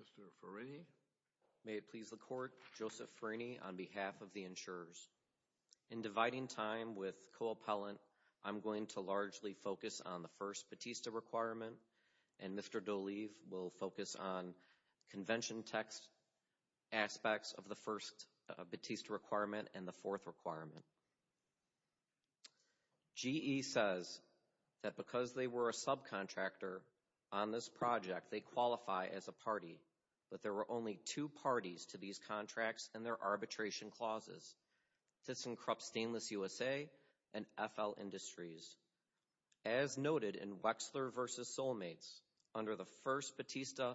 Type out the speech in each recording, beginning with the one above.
Mr. Farini. May it please the court, Joseph Farini on behalf of the insurers. In dividing time with co-appellant, I'm going to largely focus on the first Batista requirement and Mr. Doleve will focus on convention text aspects of the first Batista requirement and the fourth requirement. GE says that because they were a subcontractor on this project, they qualify as a party, but there were only two parties to these contracts and their arbitration clauses. This encrops Stainless USA and FL Industries. As noted in Wexler v. Soulmates, under the first Batista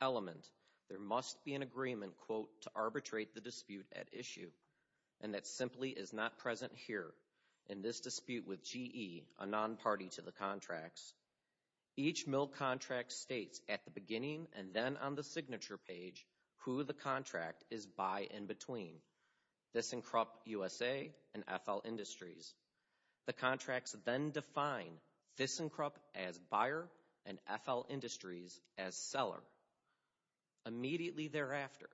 element, there must be an agreement, quote, to arbitrate the dispute at issue and that simply is not present here in this dispute with GE, a non-party to the contracts. Each mill contract states at the beginning and then on the signature page who the contract is by and between. This encrops USA and FL Industries. The contracts then define this encrops as buyer and FL Industries as seller. Immediately thereafter,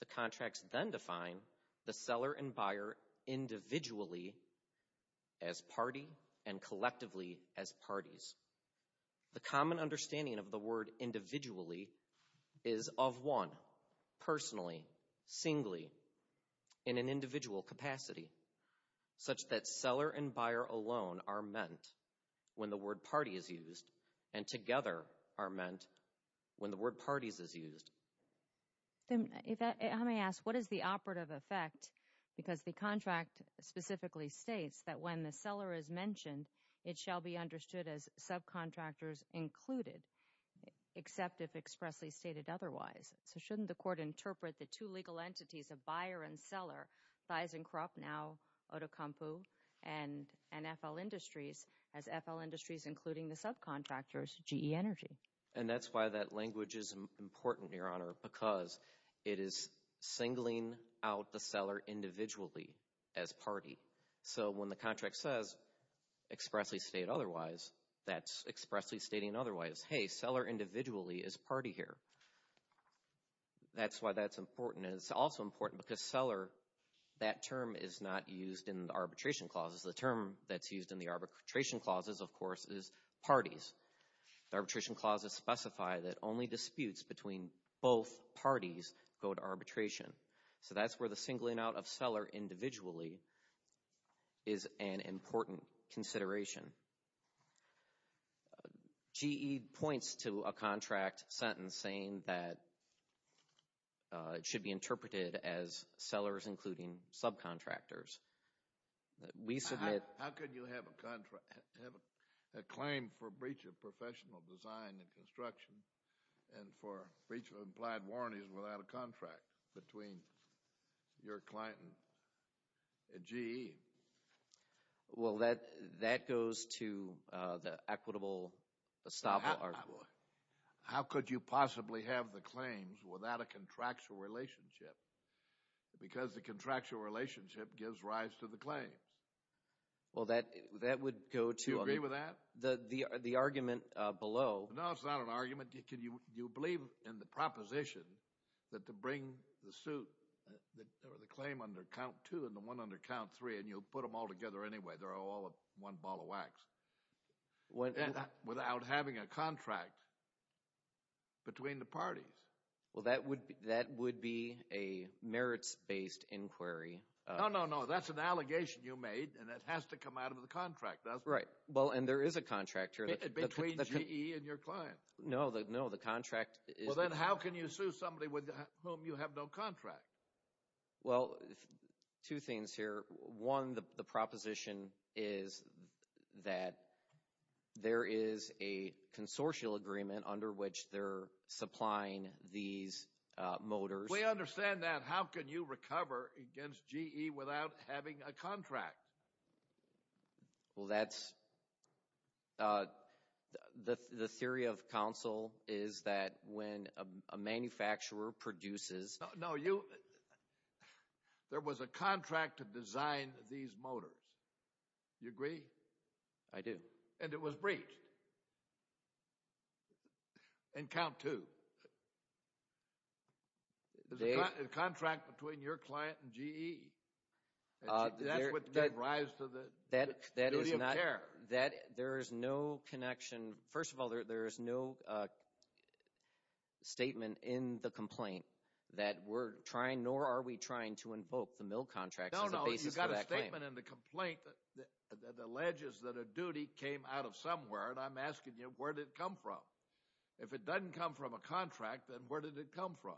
the contracts then define the seller and buyer individually as party and collectively as parties. The common understanding of the word individual capacity such that seller and buyer alone are meant when the word party is used and together are meant when the word parties is used. Let me ask, what is the operative effect? Because the contract specifically states that when the seller is mentioned, it shall be understood as subcontractors included, except if expressly stated otherwise. So shouldn't the court interpret the two legal entities of buyer and seller, ThysenKrupp, now Otokampu, and FL Industries as FL Industries including the subcontractors, GE Energy? And that's why that language is important, Your Honor, because it is singling out the seller individually as party. So when the contract says expressly state otherwise, that's expressly stating otherwise. Hey, seller individually is party here. That's why that's important and it's also important because seller, that term is not used in the arbitration clauses. The term that's used in the arbitration clauses, of course, is parties. Arbitration clauses specify that only disputes between both parties go to arbitration. So that's where the singling out of seller individually is an as sellers including subcontractors. How could you have a claim for breach of professional design and construction and for breach of implied warranties without a contract between your client and GE? Well, that goes to the equitable estoppel argument. How could you possibly have the claims without a contract because the contractual relationship gives rise to the claims? Well, that would go to the argument below. No, it's not an argument. You believe in the proposition that to bring the suit or the claim under count two and the one under count three and you'll put them all together anyway. They're all one ball of wax. Without having a contract between the parties. Well, that would be a merits-based inquiry. No, no, no. That's an allegation you made and it has to come out of the contract. That's right. Well, and there is a contract here. Between GE and your client. No, the contract is. Well, then how can you sue somebody with whom you have no contract? Well, two things here. One, the proposition is that there is a consortial agreement under which they're supplying these motors. We understand that. How can you recover against GE without having a contract? Well, that's the theory of counsel is that when a manufacturer produces. No, you. There was a contract to design these motors. You agree? I do. And it was breached. And count two. There's a contract between your client and GE. That's what gave rise to the duty of care. That is not. There is no connection. First of all, there is no statement in the complaint that we're trying nor are we trying to invoke the mill contracts as a basis of that claim. If there's a statement in the complaint that alleges that a duty came out of somewhere and I'm asking you, where did it come from? If it doesn't come from a contract, then where did it come from?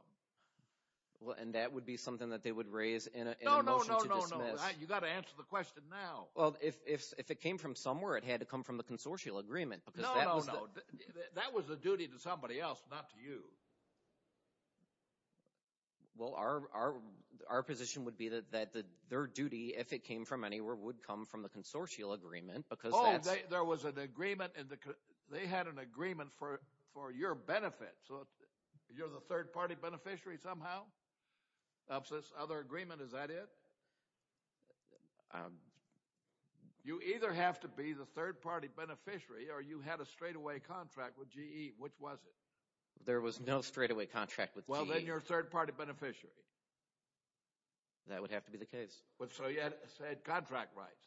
Well, and that would be something that they would raise in a motion to dismiss. No, no, no, no, no. You've got to answer the question now. Well, if it came from somewhere, it had to come from the consortial agreement because that was the. No, no, no. That was a duty to somebody else, not to you. Well, our our our position would be that that their duty, if it came from anywhere, would come from the consortial agreement because there was an agreement and they had an agreement for for your benefit. So you're the third party beneficiary somehow. Is that it? You either have to be the third party beneficiary or you had a straightaway contract with GE. Which was it? There was no straightaway contract with GE. Well, then you're a third party beneficiary. That would have to be the case. But so you had contract rights.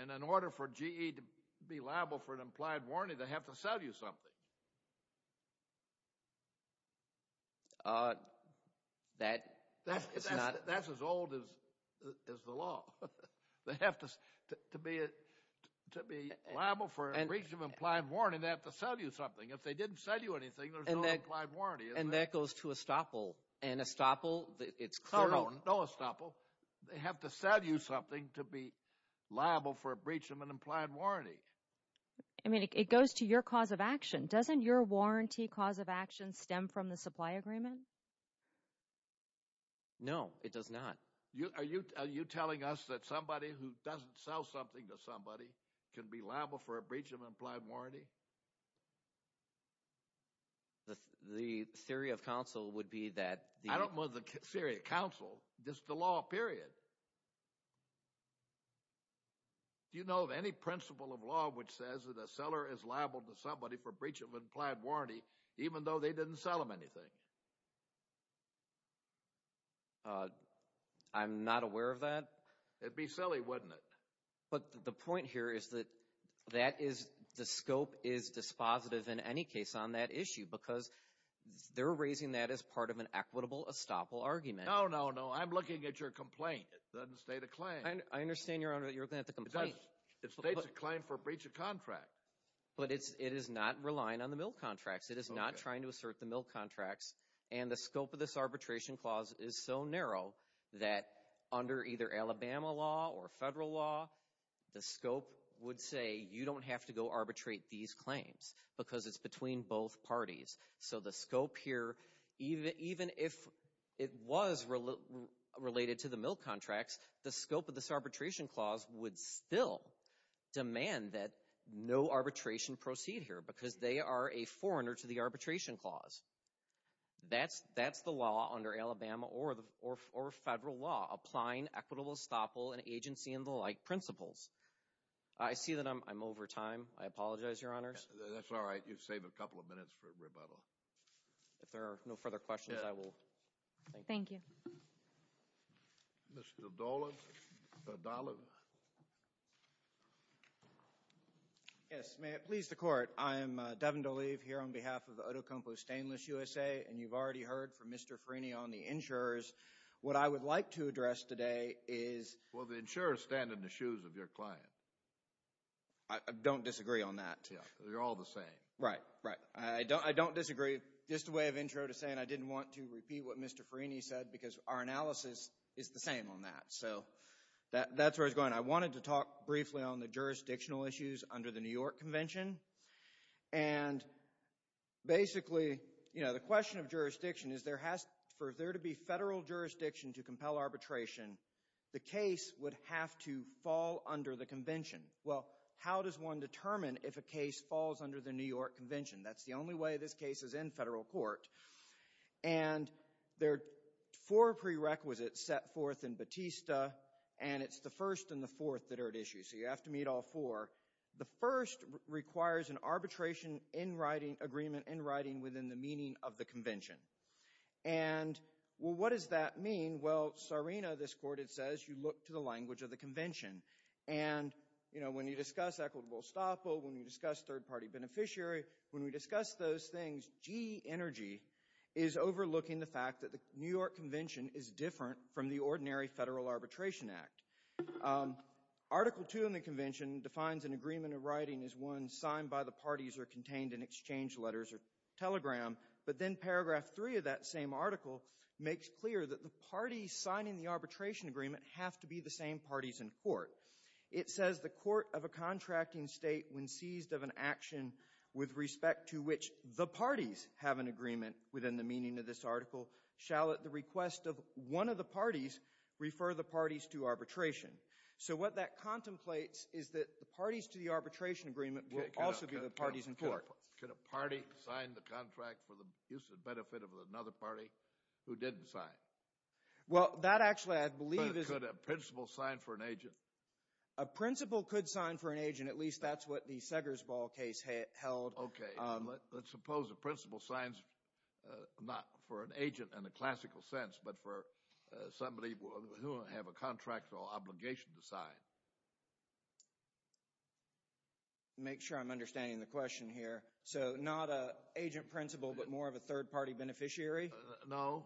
And in order for GE to be liable for an implied warranty, they have to sell you something. That is not. That's as old as the law. They have to be liable for breach of implied warranty. They have to sell you something. If they didn't sell you anything, there's no implied warranty. And that goes to estoppel. And estoppel, it's clear. No, no estoppel. They have to sell you something to be liable for a breach of an implied warranty. I mean, it goes to your cause of action. Doesn't your warranty cause of action stem from the supply agreement? No, it does not. Are you are you telling us that somebody who doesn't sell something to somebody can be liable for a breach of implied warranty? The theory of counsel would be that. I don't know the theory of counsel. This is the law, period. Do you know of any principle of law which says that a seller is liable to somebody for breach of implied warranty, even though they didn't sell him anything? I'm not aware of that. It'd be silly, wouldn't it? But the point here is that that is the scope is dispositive in any case on that issue because they're raising that as part of an equitable estoppel argument. No, no, no. I'm looking at your complaint. It doesn't state a claim. I understand, Your Honor, that you're looking at the complaint. It states a claim for a breach of contract. But it is not relying on the mill contracts. It is not trying to assert the mill contracts. And the scope of this arbitration clause is so narrow that under either Alabama law or federal law, the scope would say you don't have to go arbitrate these claims because it's between both parties. So the scope here, even if it was related to the mill contracts, the scope of this arbitration clause would still demand that no arbitration proceed here because they are a foreigner to the arbitration clause. That's the law under Alabama or federal law, applying equitable estoppel and agency and the like principles. I see that I'm over time. I apologize, Your Honors. That's all right. You've saved a couple of minutes for rebuttal. If there are no further questions, I will. Thank you, Mr. Dolan. Yes, may it please the court. I am Devin Doleve here on behalf of Otocompo Stainless USA. And you've already heard from Mr. Frini on the insurers. What I would like to address today is. Well, the insurers stand in the shoes of your client. I don't disagree on that. They're all the same. Right, right. I don't disagree. Just a way of intro to saying I didn't want to repeat what Mr. Frini said because our analysis is the same on that. So that's where I was going. I wanted to talk briefly on the jurisdictional issues under the New York Convention. And basically, you know, the question of jurisdiction is there has for there to be federal jurisdiction to compel arbitration. The case would have to fall under the convention. Well, how does one determine if a case falls under the New York Convention? That's the only way this case is in federal court. And there are four prerequisites set forth in Batista, and it's the first and the fourth that are at issue. So you have to meet all four. The first requires an arbitration agreement in writing within the meaning of the convention. And, well, what does that mean? Well, Sarina, this court, it says you look to the language of the convention. And, you know, when you discuss equitable estoppel, when you discuss third-party beneficiary, when we discuss those things, GE Energy is overlooking the fact that the New York Convention is different from the ordinary federal arbitration act. Article two in the convention defines an agreement of writing as one signed by the parties or contained in exchange letters or telegram. But then paragraph three of that same article makes clear that the parties signing the arbitration agreement have to be the same parties in court. It says the court of a contracting state, when seized of an action with respect to which the parties have an agreement within the meaning of this article, shall at the request of one of the parties refer the parties to arbitration. So what that contemplates is that the parties to the arbitration agreement will also be the parties in court. Could a party sign the contract for the use and benefit of another party who didn't sign? Well, that actually, I believe, is... Could a principal sign for an agent? A principal could sign for an agent. At least that's what the Seger's Ball case held. Okay, let's suppose a principal signs, not for an agent in the classical sense, but for somebody who will have a contractual obligation to sign. Make sure I'm understanding the question here. So not an agent principal, but more of a third party beneficiary? No.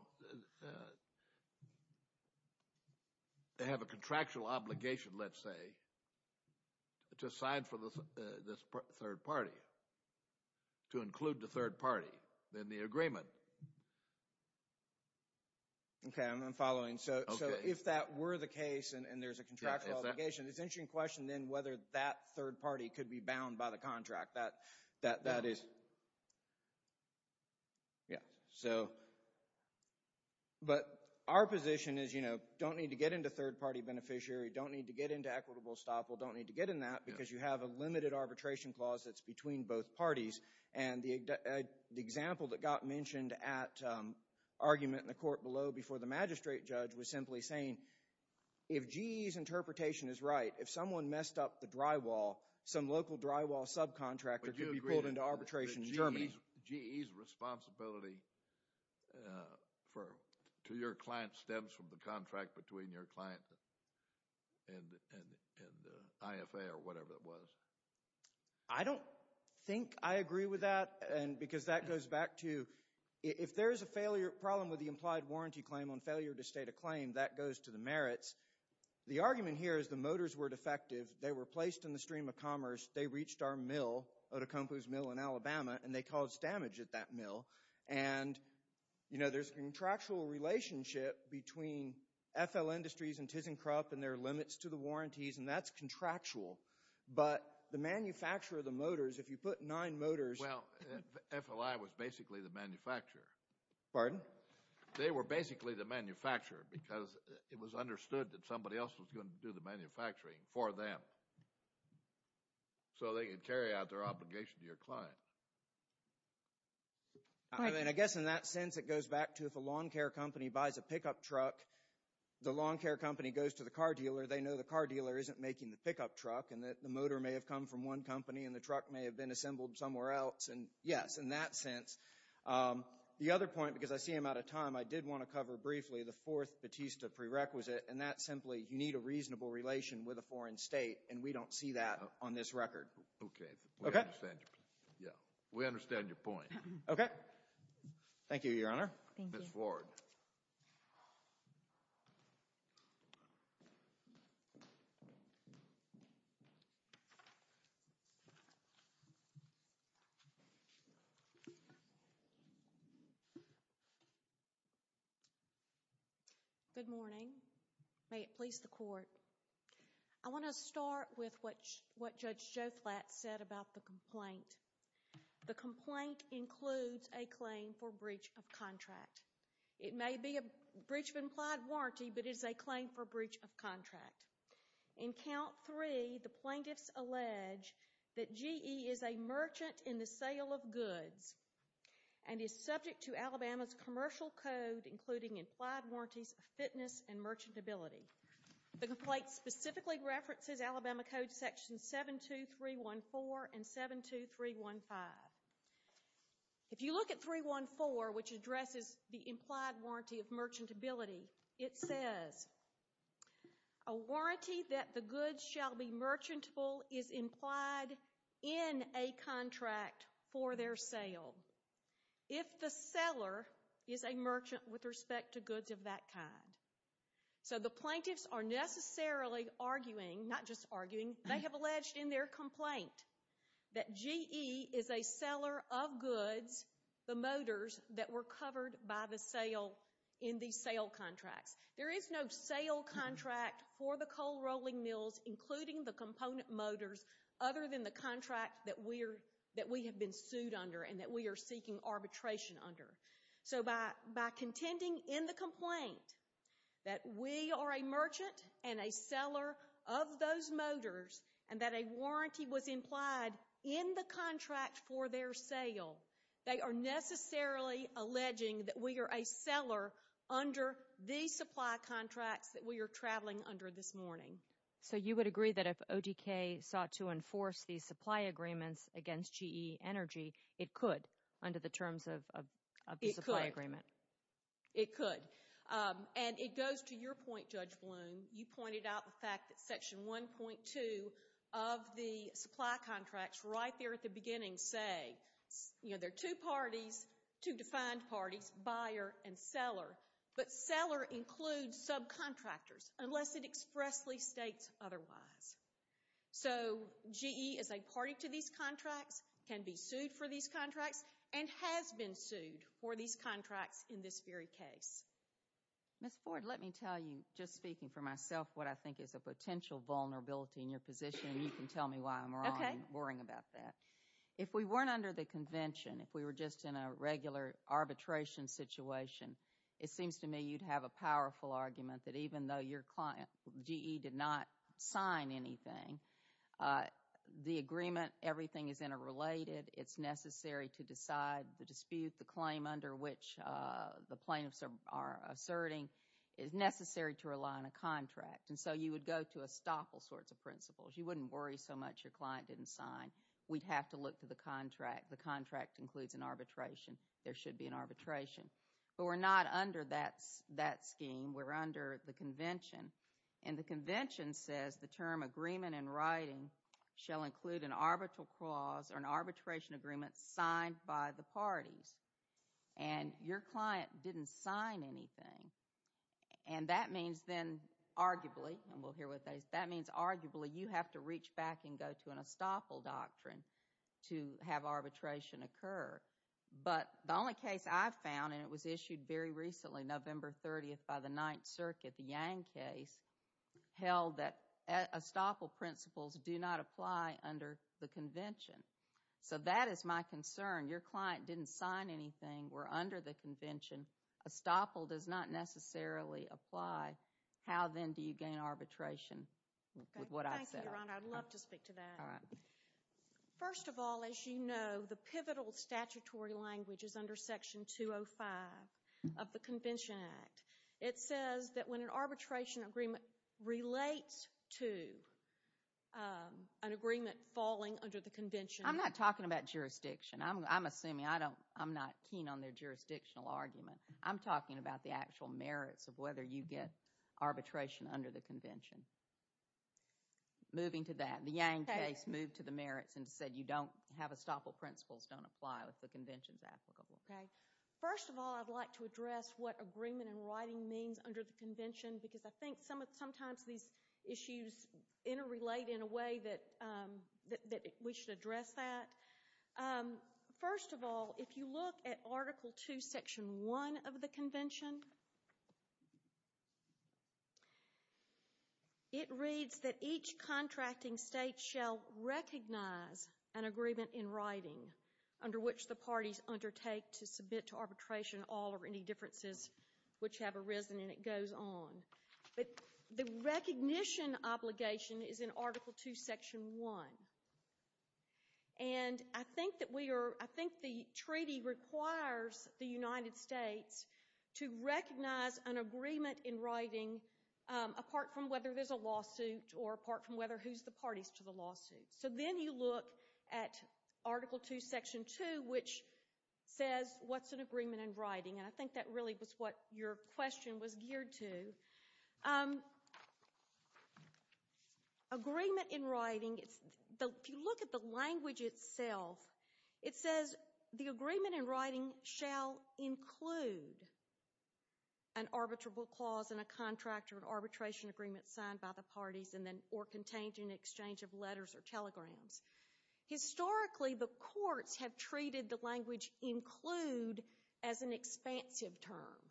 They have a contractual obligation, let's say, to sign for this third party. To include the third party in the agreement. Okay, I'm following. So if that were the case and there's a contractual obligation, it's an interesting question then whether that third party could be bound by the contract. Yeah. But our position is, you know, don't need to get into third party beneficiary, don't need to get into equitable estoppel, don't need to get in that because you have a limited arbitration clause that's between both parties. And the example that got mentioned at argument in the court below before the magistrate judge was simply saying, if GE's interpretation is right, if someone messed up the drywall, some local drywall subcontractor could be pulled into arbitration in Germany. GE's responsibility to your client stems from the contract between your client and the IFA or whatever it was. I don't think I agree with that. And because that goes back to, if there is a failure, problem with the implied warranty claim on failure to state a claim, that goes to the merits. The argument here is the motors were defective. They were placed in the stream of commerce. They reached our mill, Otacompo's mill in Alabama, and they caused damage at that mill. And, you know, there's a contractual relationship between FL Industries and ThyssenKrupp and their limits to the warranties, and that's contractual. But the manufacturer of the motors, if you put nine motors— Well, FLI was basically the manufacturer. Pardon? They were basically the manufacturer because it was understood that somebody else was going to do the manufacturing for them so they could carry out their obligation to your client. And I guess in that sense, it goes back to, if a lawn care company buys a pickup truck, the lawn care company goes to the car dealer. They know the car dealer isn't making the pickup truck and that the motor may have come from one company and the truck may have been assembled somewhere else. And yes, in that sense. The other point, because I see I'm out of time, I did want to cover briefly the fourth Batista prerequisite, and that's simply you need a reasonable relation with a foreign state, and we don't see that on this record. Okay. Yeah, we understand your point. Okay. Thank you, Your Honor. Thank you. Good morning. May it please the Court. I want to start with what Judge Joflat said about the complaint. The complaint includes a claim for breach of contract. It may be a breach of implied warranty, but it is a claim for breach of contract. In count three, the plaintiffs allege that GE is a merchant in the sale of goods and is subject to Alabama's commercial code, including implied warranties of fitness and merchantability. The complaint specifically references Alabama Code sections 72314 and 72315. If you look at 314, which addresses the implied warranty of merchantability, it says a warranty that the goods shall be merchantable is implied in a contract for their sale if the seller is a merchant with respect to goods of that kind. So the plaintiffs are necessarily arguing, not just arguing, they have alleged in their complaint that GE is a seller of goods, the motors that were covered by the sale in these sale contracts. There is no sale contract for the coal rolling mills, including the component motors, other than the contract that we have been sued under and that we are seeking arbitration under. So by contending in the complaint that we are a merchant and a seller of those motors and that a warranty was implied in the contract for their sale, they are necessarily alleging that we are a seller under the supply contracts that we are traveling under this morning. So you would agree that if ODK sought to enforce these supply agreements against GE Energy, it could under the terms of the supply agreement? It could. And it goes to your point, Judge Bloom. You pointed out the fact that section 1.2 of the supply contracts right there at the beginning say, you know, there are two parties, two defined parties, buyer and seller, but seller includes subcontractors unless it expressly states otherwise. So GE is a party to these contracts, can be sued for these contracts, and has been sued for these contracts in this very case. Ms. Ford, let me tell you, just speaking for myself, what I think is a potential vulnerability in your position, and you can tell me why I'm wrong and worrying about that. If we weren't under the convention, if we were just in a regular arbitration situation, it seems to me you'd have a powerful argument that even though your client, GE, did not sign anything, the agreement, everything is interrelated. It's necessary to decide the dispute, the claim under which the plaintiffs are asserting is necessary to rely on a contract. And so you would go to estoppel sorts of principles. You wouldn't worry so much your client didn't sign. We'd have to look to the contract. The contract includes an arbitration. There should be an arbitration. But we're not under that scheme. We're under the convention. And the convention says the term agreement in writing shall include an arbitral clause or an arbitration agreement signed by the parties. And your client didn't sign anything. And that means then arguably, and we'll hear what that is, that means arguably you have to reach back and go to an estoppel doctrine to have arbitration occur. But the only case I've found, and it was issued very recently, November 30th by the Ninth Circuit, the Yang case, held that estoppel principles do not apply under the convention. So that is my concern. Your client didn't sign anything. We're under the convention. Estoppel does not necessarily apply. How then do you gain arbitration with what I said? Thank you, Your Honor. I'd love to speak to that. First of all, as you know, the pivotal statutory language is under section 205 of the Convention Act. It says that when an arbitration agreement relates to an agreement falling under the convention. I'm not talking about jurisdiction. I'm assuming, I'm not keen on their jurisdictional argument. I'm talking about the actual merits of whether you get arbitration under the convention. Moving to that, the Yang case moved to the merits and said you don't have estoppel principles don't apply with the conventions applicable. Okay. First of all, I'd like to address what agreement and writing means under the convention, because I think sometimes these issues interrelate in a way that we should address that. First of all, if you look at article two, section one of the convention, it reads that each contracting state shall recognize an agreement in writing under which the parties undertake to submit to arbitration all or any differences which have arisen and it goes on. But the recognition obligation is in article two, section one. And I think that we are, I think the treaty requires the United States to recognize an agreement in writing apart from whether there's a lawsuit or apart from whether who's the parties to the lawsuit. So then you look at article two, section two, which says what's an agreement in writing. And I think that really was what your question was geared to. Agreement in writing, if you look at the language itself, it says the agreement in writing shall include an arbitrable clause and a contractor of arbitration agreement signed by the parties and then or contained in exchange of letters or telegrams. Historically, the courts have treated the language include as an expansive term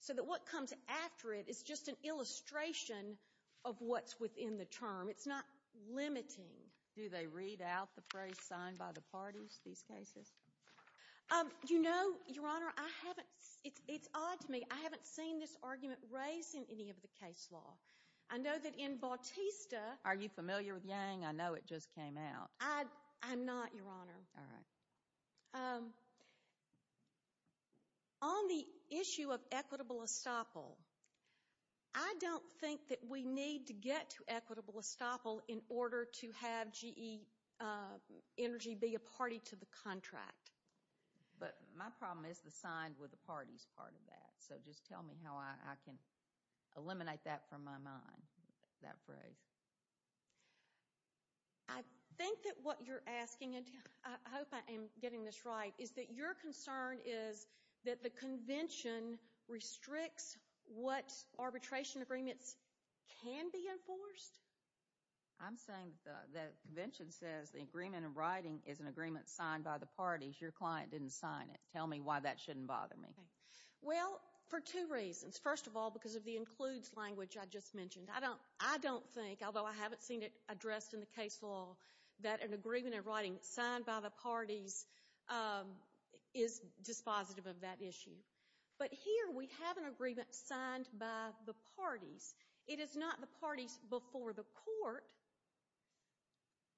so that what comes after it is just an illustration of what's within the term. It's not limiting. Do they read out the phrase signed by the parties, these cases? You know, Your Honor, I haven't, it's odd to me. I haven't seen this argument raised in any of the case law. I know that in Bautista. Are you familiar with Yang? I know it just came out. I'm not, Your Honor. All right. Um, on the issue of equitable estoppel, I don't think that we need to get to equitable estoppel in order to have GE Energy be a party to the contract. But my problem is the signed with the parties part of that. So just tell me how I can eliminate that from my mind, that phrase. I think that what you're asking, I hope I am getting this right, is that your concern is that the convention restricts what arbitration agreements can be enforced? I'm saying the convention says the agreement in writing is an agreement signed by the parties. Your client didn't sign it. Tell me why that shouldn't bother me. Well, for two reasons. First of all, because of the includes language I just mentioned, I don't, I don't think, although I haven't seen it addressed in the case law, that an agreement in writing signed by the parties is dispositive of that issue. But here we have an agreement signed by the parties. It is not the parties before the court.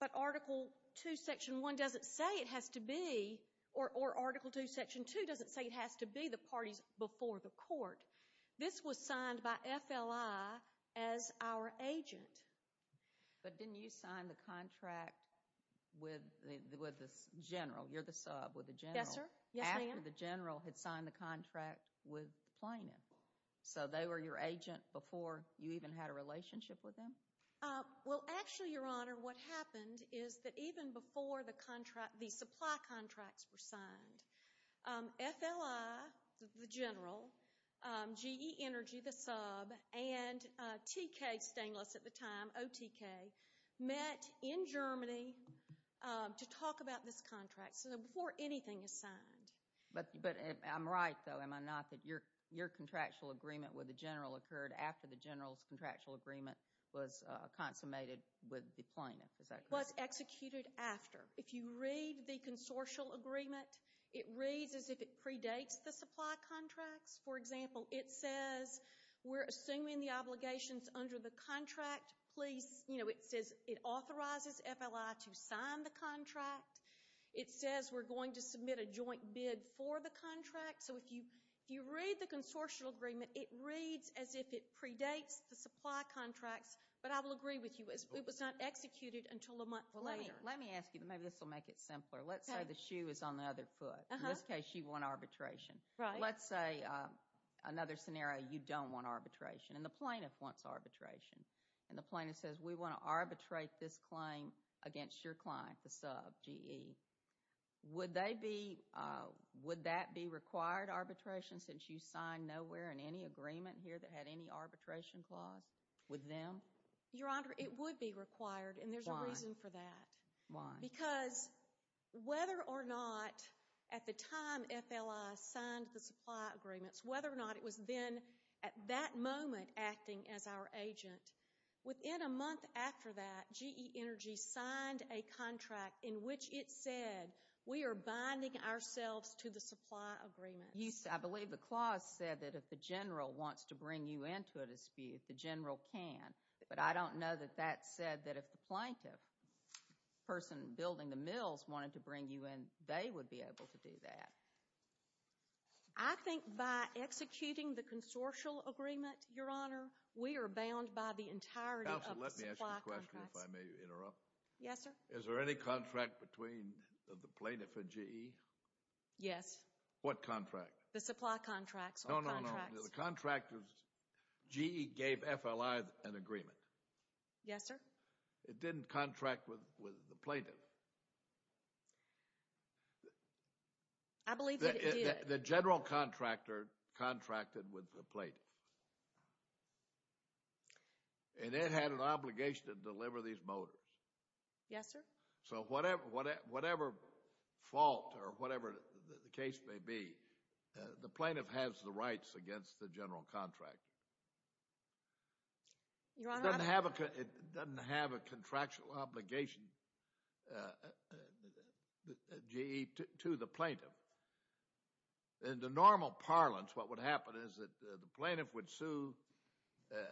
But Article 2, Section 1 doesn't say it has to be, or Article 2, Section 2 doesn't say it has to be the parties before the court. This was signed by FLI as our agent. But didn't you sign the contract with the General? You're the sub with the General. Yes, sir. Yes, ma'am. After the General had signed the contract with the plaintiff. So they were your agent before you even had a relationship with them? Well, actually, Your Honor, what happened is that even before the contract, the supply contracts were signed, FLI, the General, GE Energy, the sub, and TK Stainless at the time, OTK, met in Germany to talk about this contract. So before anything is signed. But I'm right, though, am I not, that your contractual agreement with the General occurred after the General's contractual agreement was consummated with the plaintiff, is that correct? Was executed after. If you read the consortial agreement, it reads as if it predates the supply contracts. For example, it says we're assuming the obligations under the contract. Please, you know, it says it authorizes FLI to sign the contract. It says we're going to submit a joint bid for the contract. So if you read the consortial agreement, it reads as if it predates the supply contracts. But I will agree with you, it was not executed until a month later. Let me ask you, maybe this will make it simpler. Let's say the shoe is on the other foot. In this case, you want arbitration. Let's say another scenario, you don't want arbitration. And the plaintiff wants arbitration. And the plaintiff says, we want to arbitrate this claim against your client, the sub, GE. Would that be required, arbitration, since you signed nowhere in any agreement here that had any arbitration clause with them? Your Honor, it would be required. And there's a reason for that. Because whether or not, at the time FLI signed the supply agreements, whether or not it was then, at that moment, acting as our agent, within a month after that, GE Energy signed a contract in which it said, we are binding ourselves to the supply agreements. I believe the clause said that if the general wants to bring you into a dispute, the general can. But I don't know that that said that if the plaintiff building the mills wanted to bring you in, they would be able to do that. I think by executing the consortial agreement, Your Honor, we are bound by the entirety of the supply contracts. Counsel, let me ask you a question, if I may interrupt. Yes, sir. Is there any contract between the plaintiff and GE? Yes. What contract? The supply contracts. No, no, no. The contract was, GE gave FLI an agreement. Yes, sir. It didn't contract with the plaintiff. I believe that it did. The general contractor contracted with the plaintiff. And it had an obligation to deliver these motors. Yes, sir. So whatever fault or whatever the case may be, the plaintiff has the rights against the general contractor. It doesn't have a contractual obligation, GE, to the plaintiff. In the normal parlance, what would happen is that the plaintiff would sue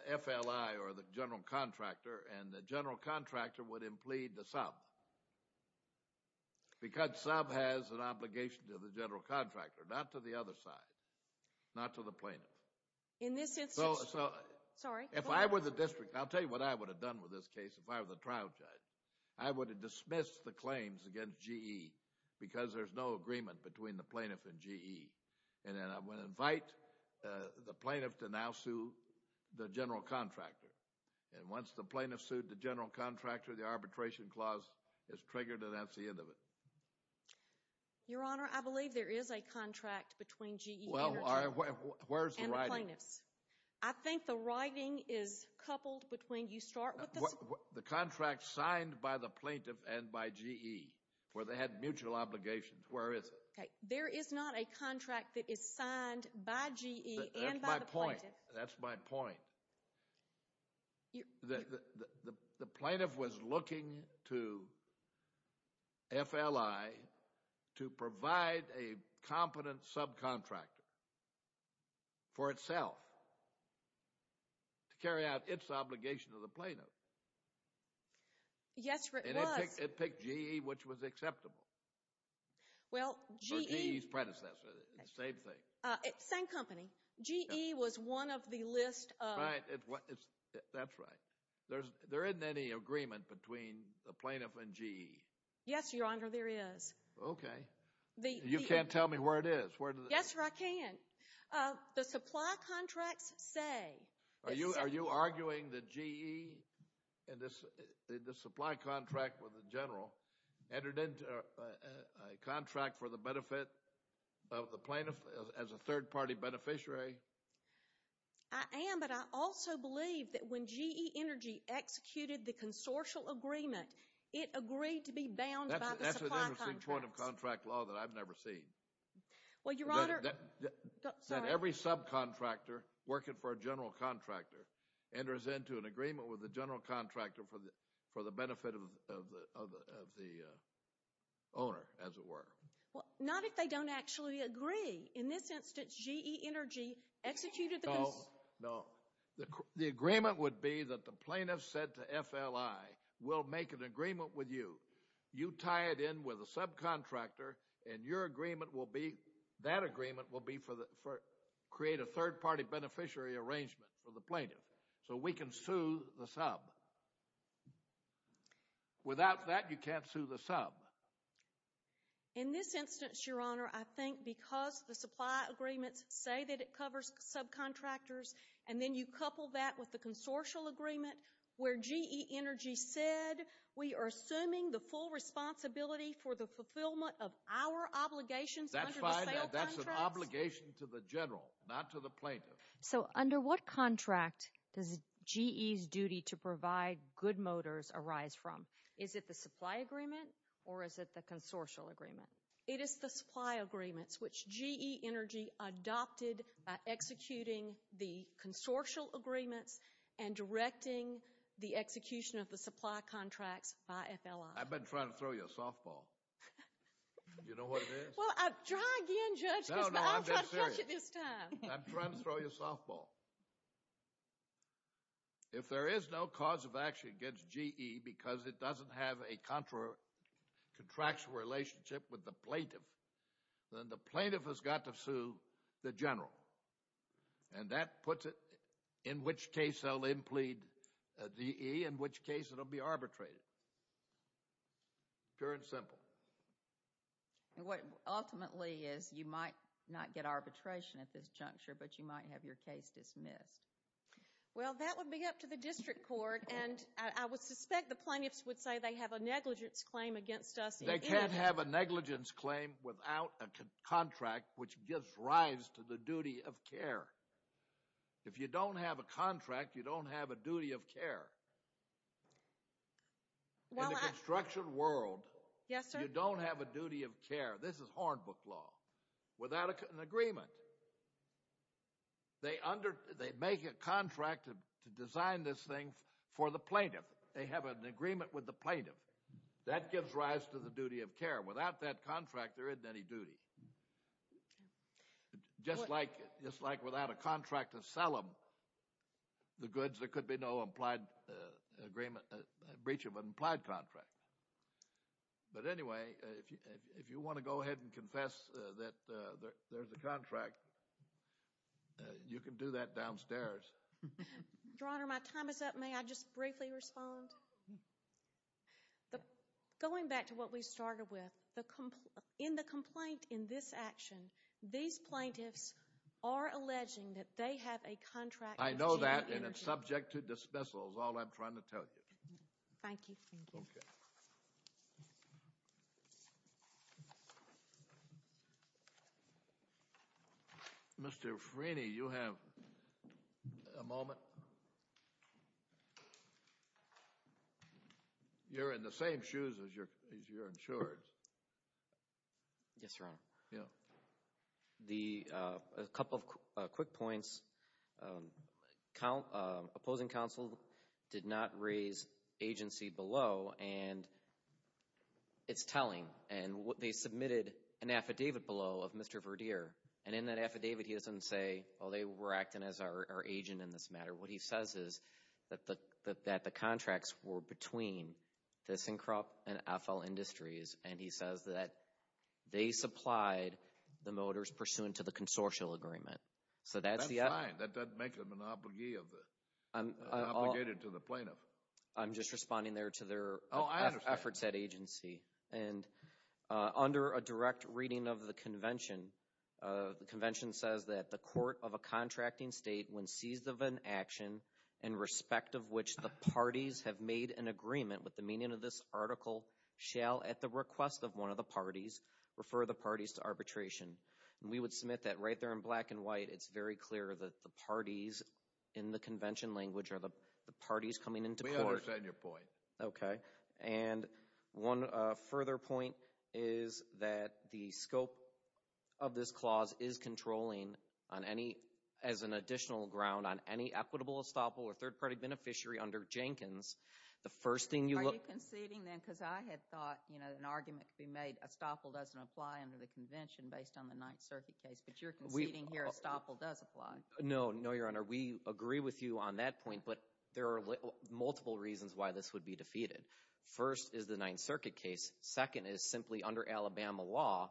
FLI or the general contractor, and the general contractor would implede the sub. Because sub has an obligation to the general contractor, not to the other side, not to the plaintiff. In this instance... So if I were the district, I'll tell you what I would have done with this case if I were the trial judge. I would have dismissed the claims against GE because there's no agreement between the plaintiff and GE. And then I would invite the plaintiff to now sue the general contractor. And once the plaintiff sued the general contractor, the arbitration clause is triggered, and that's the end of it. Your Honor, I believe there is a contract between GE Energy... Where's the writing? I think the writing is coupled between... The contract signed by the plaintiff and by GE, where they had mutual obligations. Where is it? There is not a contract that is signed by GE and by the plaintiff. That's my point. The plaintiff was looking to FLI to provide a competent subcontractor. For itself. To carry out its obligation to the plaintiff. Yes, it was. And it picked GE, which was acceptable. Well, GE... Or GE's predecessor. Same thing. Same company. GE was one of the list of... Right. That's right. There isn't any agreement between the plaintiff and GE. Yes, Your Honor, there is. Okay. You can't tell me where it is. Yes, sir, I can. The supply contracts say... Are you arguing that GE and the supply contract with the general entered into a contract for the benefit of the plaintiff as a third-party beneficiary? I am, but I also believe that when GE Energy executed the consortial agreement, it agreed to be bound by the supply contracts. That's an interesting point of contract law that I've never seen. Well, Your Honor... Every subcontractor working for a general contractor enters into an agreement with the general contractor for the benefit of the owner, as it were. Well, not if they don't actually agree. In this instance, GE Energy executed the... No, no. The agreement would be that the plaintiff said to FLI, we'll make an agreement with you. You tie it in with a subcontractor, and your agreement will be... That agreement will create a third-party beneficiary arrangement for the plaintiff, so we can sue the sub. Without that, you can't sue the sub. In this instance, Your Honor, I think because the supply agreements say that it covers subcontractors, and then you couple that with the consortial agreement where GE Energy said, we are assuming the full responsibility for the fulfillment of our obligations... That's fine. That's an obligation to the general, not to the plaintiff. So under what contract does GE's duty to provide good motors arise from? Is it the supply agreement, or is it the consortial agreement? It is the supply agreements, which GE Energy adopted by executing the consortial agreements and directing the execution of the supply contracts by FLI. I've been trying to throw you a softball. You know what it is? Well, try again, Judge. No, no, I'm being serious. I'm trying to throw you a softball. If there is no cause of action against GE, because it doesn't have a contractual relationship with the plaintiff, then the plaintiff has got to sue the general. And that puts it in which case they'll implead GE, in which case it'll be arbitrated. Pure and simple. And what ultimately is, you might not get arbitration at this juncture, but you might have your case dismissed. Well, that would be up to the district court, and I would suspect the plaintiffs would say they have a negligence claim against us. They can't have a negligence claim without a contract, which gives rise to the duty of care. If you don't have a contract, you don't have a duty of care. In the construction world, you don't have a duty of care. This is Hornbook law. Without an agreement, they make a contract to design this thing for the plaintiff. They have an agreement with the plaintiff. That gives rise to the duty of care. Without that contract, there isn't any duty. Just like without a contract to sell them the goods, there could be no breach of an implied contract. But anyway, if you want to go ahead and confess that there's a contract, you can do that downstairs. Your Honor, my time is up. May I just briefly respond? Going back to what we started with, in the complaint in this action, these plaintiffs are alleging that they have a contract. I know that, and it's subject to dismissal is all I'm trying to tell you. Thank you. Mr. Frini, you have a moment. You're in the same shoes as your insureds. Yes, Your Honor. A couple of quick points. Opposing counsel did not raise agency below, and it's telling. They submitted an affidavit below of Mr. Verdeer, and in that affidavit, he doesn't say, oh, they were acting as our agent in this matter. What he says is that the contracts were between the Syncrop and FL Industries, and he says that they supplied the motors pursuant to the consortial agreement. So that's the... That's fine. That doesn't make them an obligee of the... Obligated to the plaintiff. I'm just responding there to their efforts at agency, and under a direct reading of the convention, the convention says that the court of a contracting state, when seized of an action in respect of which the parties have made an agreement with the meaning of this article, shall, at the request of one of the parties, refer the parties to arbitration. And we would submit that right there in black and white. It's very clear that the parties in the convention language are the parties coming into court. We understand your point. Okay. And one further point is that the scope of this clause is controlling on any... As an additional ground on any equitable estoppel or third-party beneficiary under Jenkins, the first thing you look... Are you conceding then? Because I had thought, you know, an argument could be made, estoppel doesn't apply under the convention based on the Ninth Circuit case, but you're conceding here estoppel does apply. No, no, Your Honor. We agree with you on that point, but there are multiple reasons why this would be defeated. First is the Ninth Circuit case. Second is simply under Alabama law,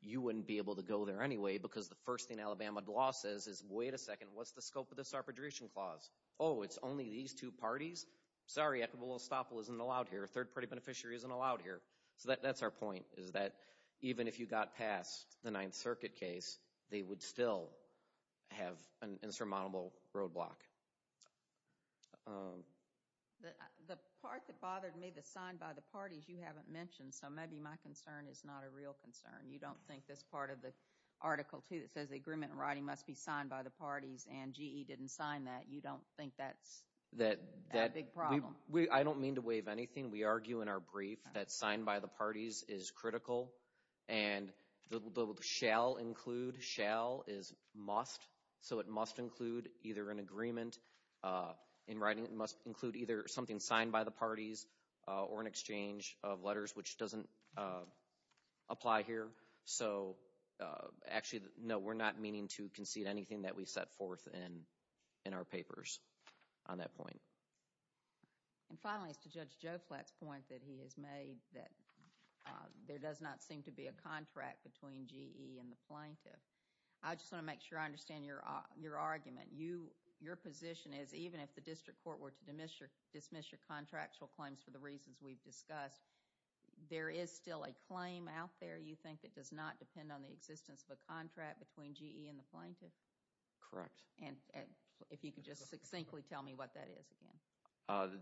you wouldn't be able to go there anyway, because the first thing Alabama law says is, wait a second, what's the scope of this arbitration clause? Oh, it's only these two parties? Sorry, equitable estoppel isn't allowed here. Third-party beneficiary isn't allowed here. So that's our point, is that even if you got past the Ninth Circuit case, they would still have an insurmountable roadblock. The part that bothered me, the signed by the parties, you haven't mentioned. So maybe my concern is not a real concern. You don't think this part of the article, too, that says the agreement in writing must be signed by the parties and GE didn't sign that. You don't think that's a big problem? I don't mean to waive anything. We argue in our brief that signed by the parties is critical. And the shall include, shall is must. So it must include either an agreement in writing. It must include either something signed by the parties or an exchange of letters, which doesn't apply here. So actually, no, we're not meaning to concede anything that we set forth in our papers on that point. And finally, it's to Judge Joe Flatt's point that he has made that there does not seem to be a contract between GE and the plaintiff. I just want to make sure I understand your argument. Your position is even if the district court were to dismiss your contractual claims for the reasons we've discussed, there is still a claim out there, you think, that does not depend on the existence of a contract between GE and the plaintiff? Correct. And if you could just succinctly tell me what that is again.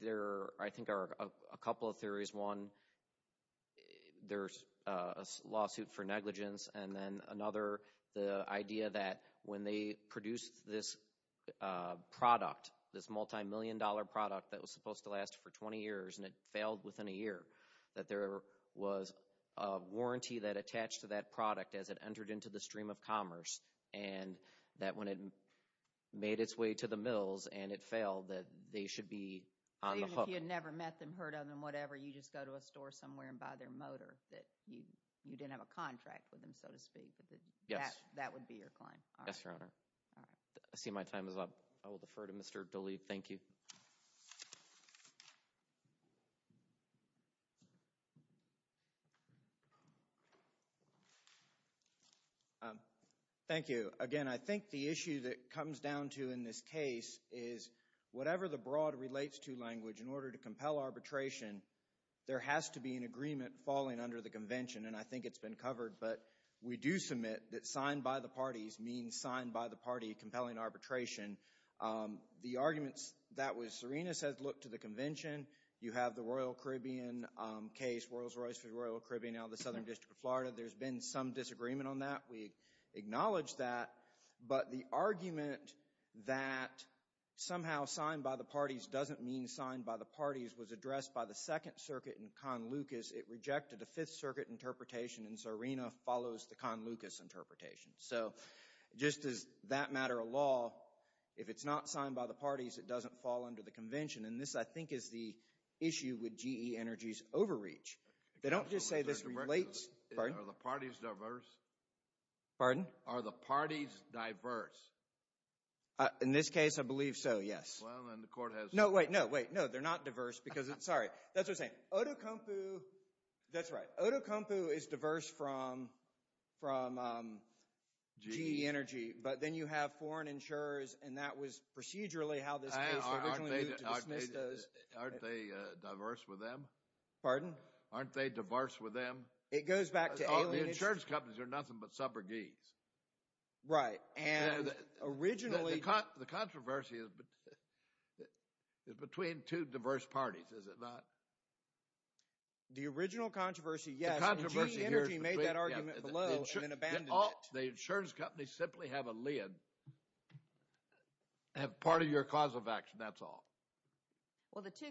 There, I think, are a couple of theories. One, there's a lawsuit for negligence. And then another, the idea that when they produced this product, this multimillion dollar product that was supposed to last for 20 years, and it failed within a year, that there was a warranty that attached to that product as it entered into the stream of commerce. And that when it made its way to the mills and it failed, that they should be on the hook. Even if you had never met them, heard of them, whatever, you just go to a store somewhere and buy their motor, that you didn't have a contract with them, so to speak. That would be your claim. Yes, Your Honor. I see my time is up. I will defer to Mr. Dooley. Thank you. Thank you. Again, I think the issue that comes down to in this case is whatever the broad relates to language in order to compel arbitration, there has to be an agreement falling under the convention. And I think it's been covered. But we do submit that signed by the parties means signed by the party compelling arbitration. The arguments that was, Serena says look to the convention. You have the Royal Caribbean case, Rolls-Royce v. Royal Caribbean out of the Southern District of Florida. There's been some disagreement on that. We acknowledge that. But the argument that somehow signed by the parties doesn't mean signed by the parties was addressed by the Second Circuit in Con Lucas. It rejected the Fifth Circuit interpretation and Serena follows the Con Lucas interpretation. So just as that matter of law, if it's not signed by the parties, it doesn't fall under the convention. And this, I think, is the issue with GE Energy's overreach. They don't just say this relates. Pardon? Are the parties diverse? Pardon? Are the parties diverse? In this case, I believe so, yes. Well, then the court has... No, wait, no, wait. No, they're not diverse because it's... Sorry. That's what I'm saying. Otokonpu... That's right. Otokonpu is diverse from GE Energy. But then you have foreign insurers and that was procedurally how this case originally moved to dismiss those. Aren't they diverse with them? Pardon? Aren't they diverse with them? It goes back to alienation... The insurance companies are nothing but suborgies. Right. And originally... The controversy is between two diverse parties, is it not? The original controversy... Yes, GE Energy made that argument below and then abandoned it. The insurance companies simply have a lid, have part of your cause of action, that's all. Well, the two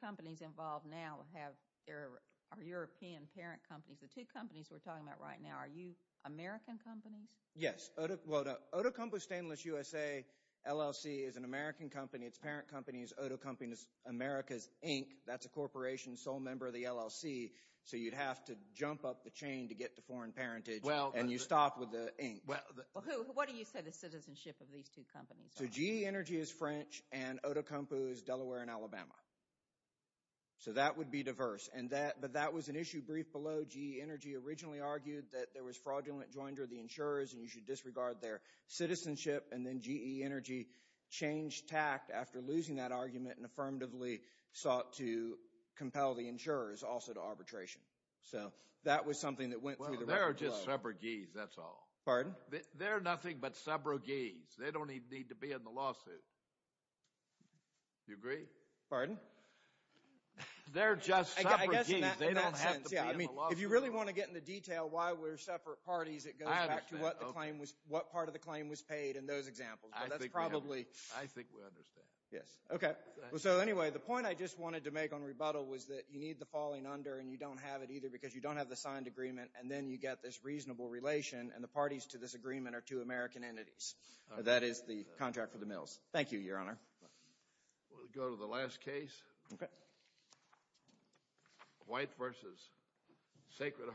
companies involved now are European parent companies. The two companies we're talking about right now, are you American companies? Yes. Otokonpu Stainless USA LLC is an American company. Its parent company is Otokonpu Americas Inc. That's a corporation, sole member of the LLC. So you'd have to jump up the chain to get to foreign parentage and you stopped with the Inc. What do you say the citizenship of these two companies? So GE Energy is French and Otokonpu is Delaware and Alabama. So that would be diverse. And that... But that was an issue brief below. GE Energy originally argued that there was fraudulent joinder of the insurers And then GE Energy changed tact after losing that argument and affirmatively sought to compel the insurers also to arbitration. So that was something that went through the record. They're just subrogies, that's all. Pardon? They're nothing but subrogies. They don't even need to be in the lawsuit. You agree? Pardon? They're just subrogies. They don't have to be in the lawsuit. If you really want to get into detail why we're separate parties, it goes back to what part of the claim was paid in those examples. But that's probably... I think we understand. Yes. Okay. So anyway, the point I just wanted to make on rebuttal was that you need the falling under and you don't have it either because you don't have the signed agreement and then you get this reasonable relation and the parties to this agreement are two American entities. That is the contract for the mills. Thank you, Your Honor. We'll go to the last case. Okay. White v. Sacred Heart.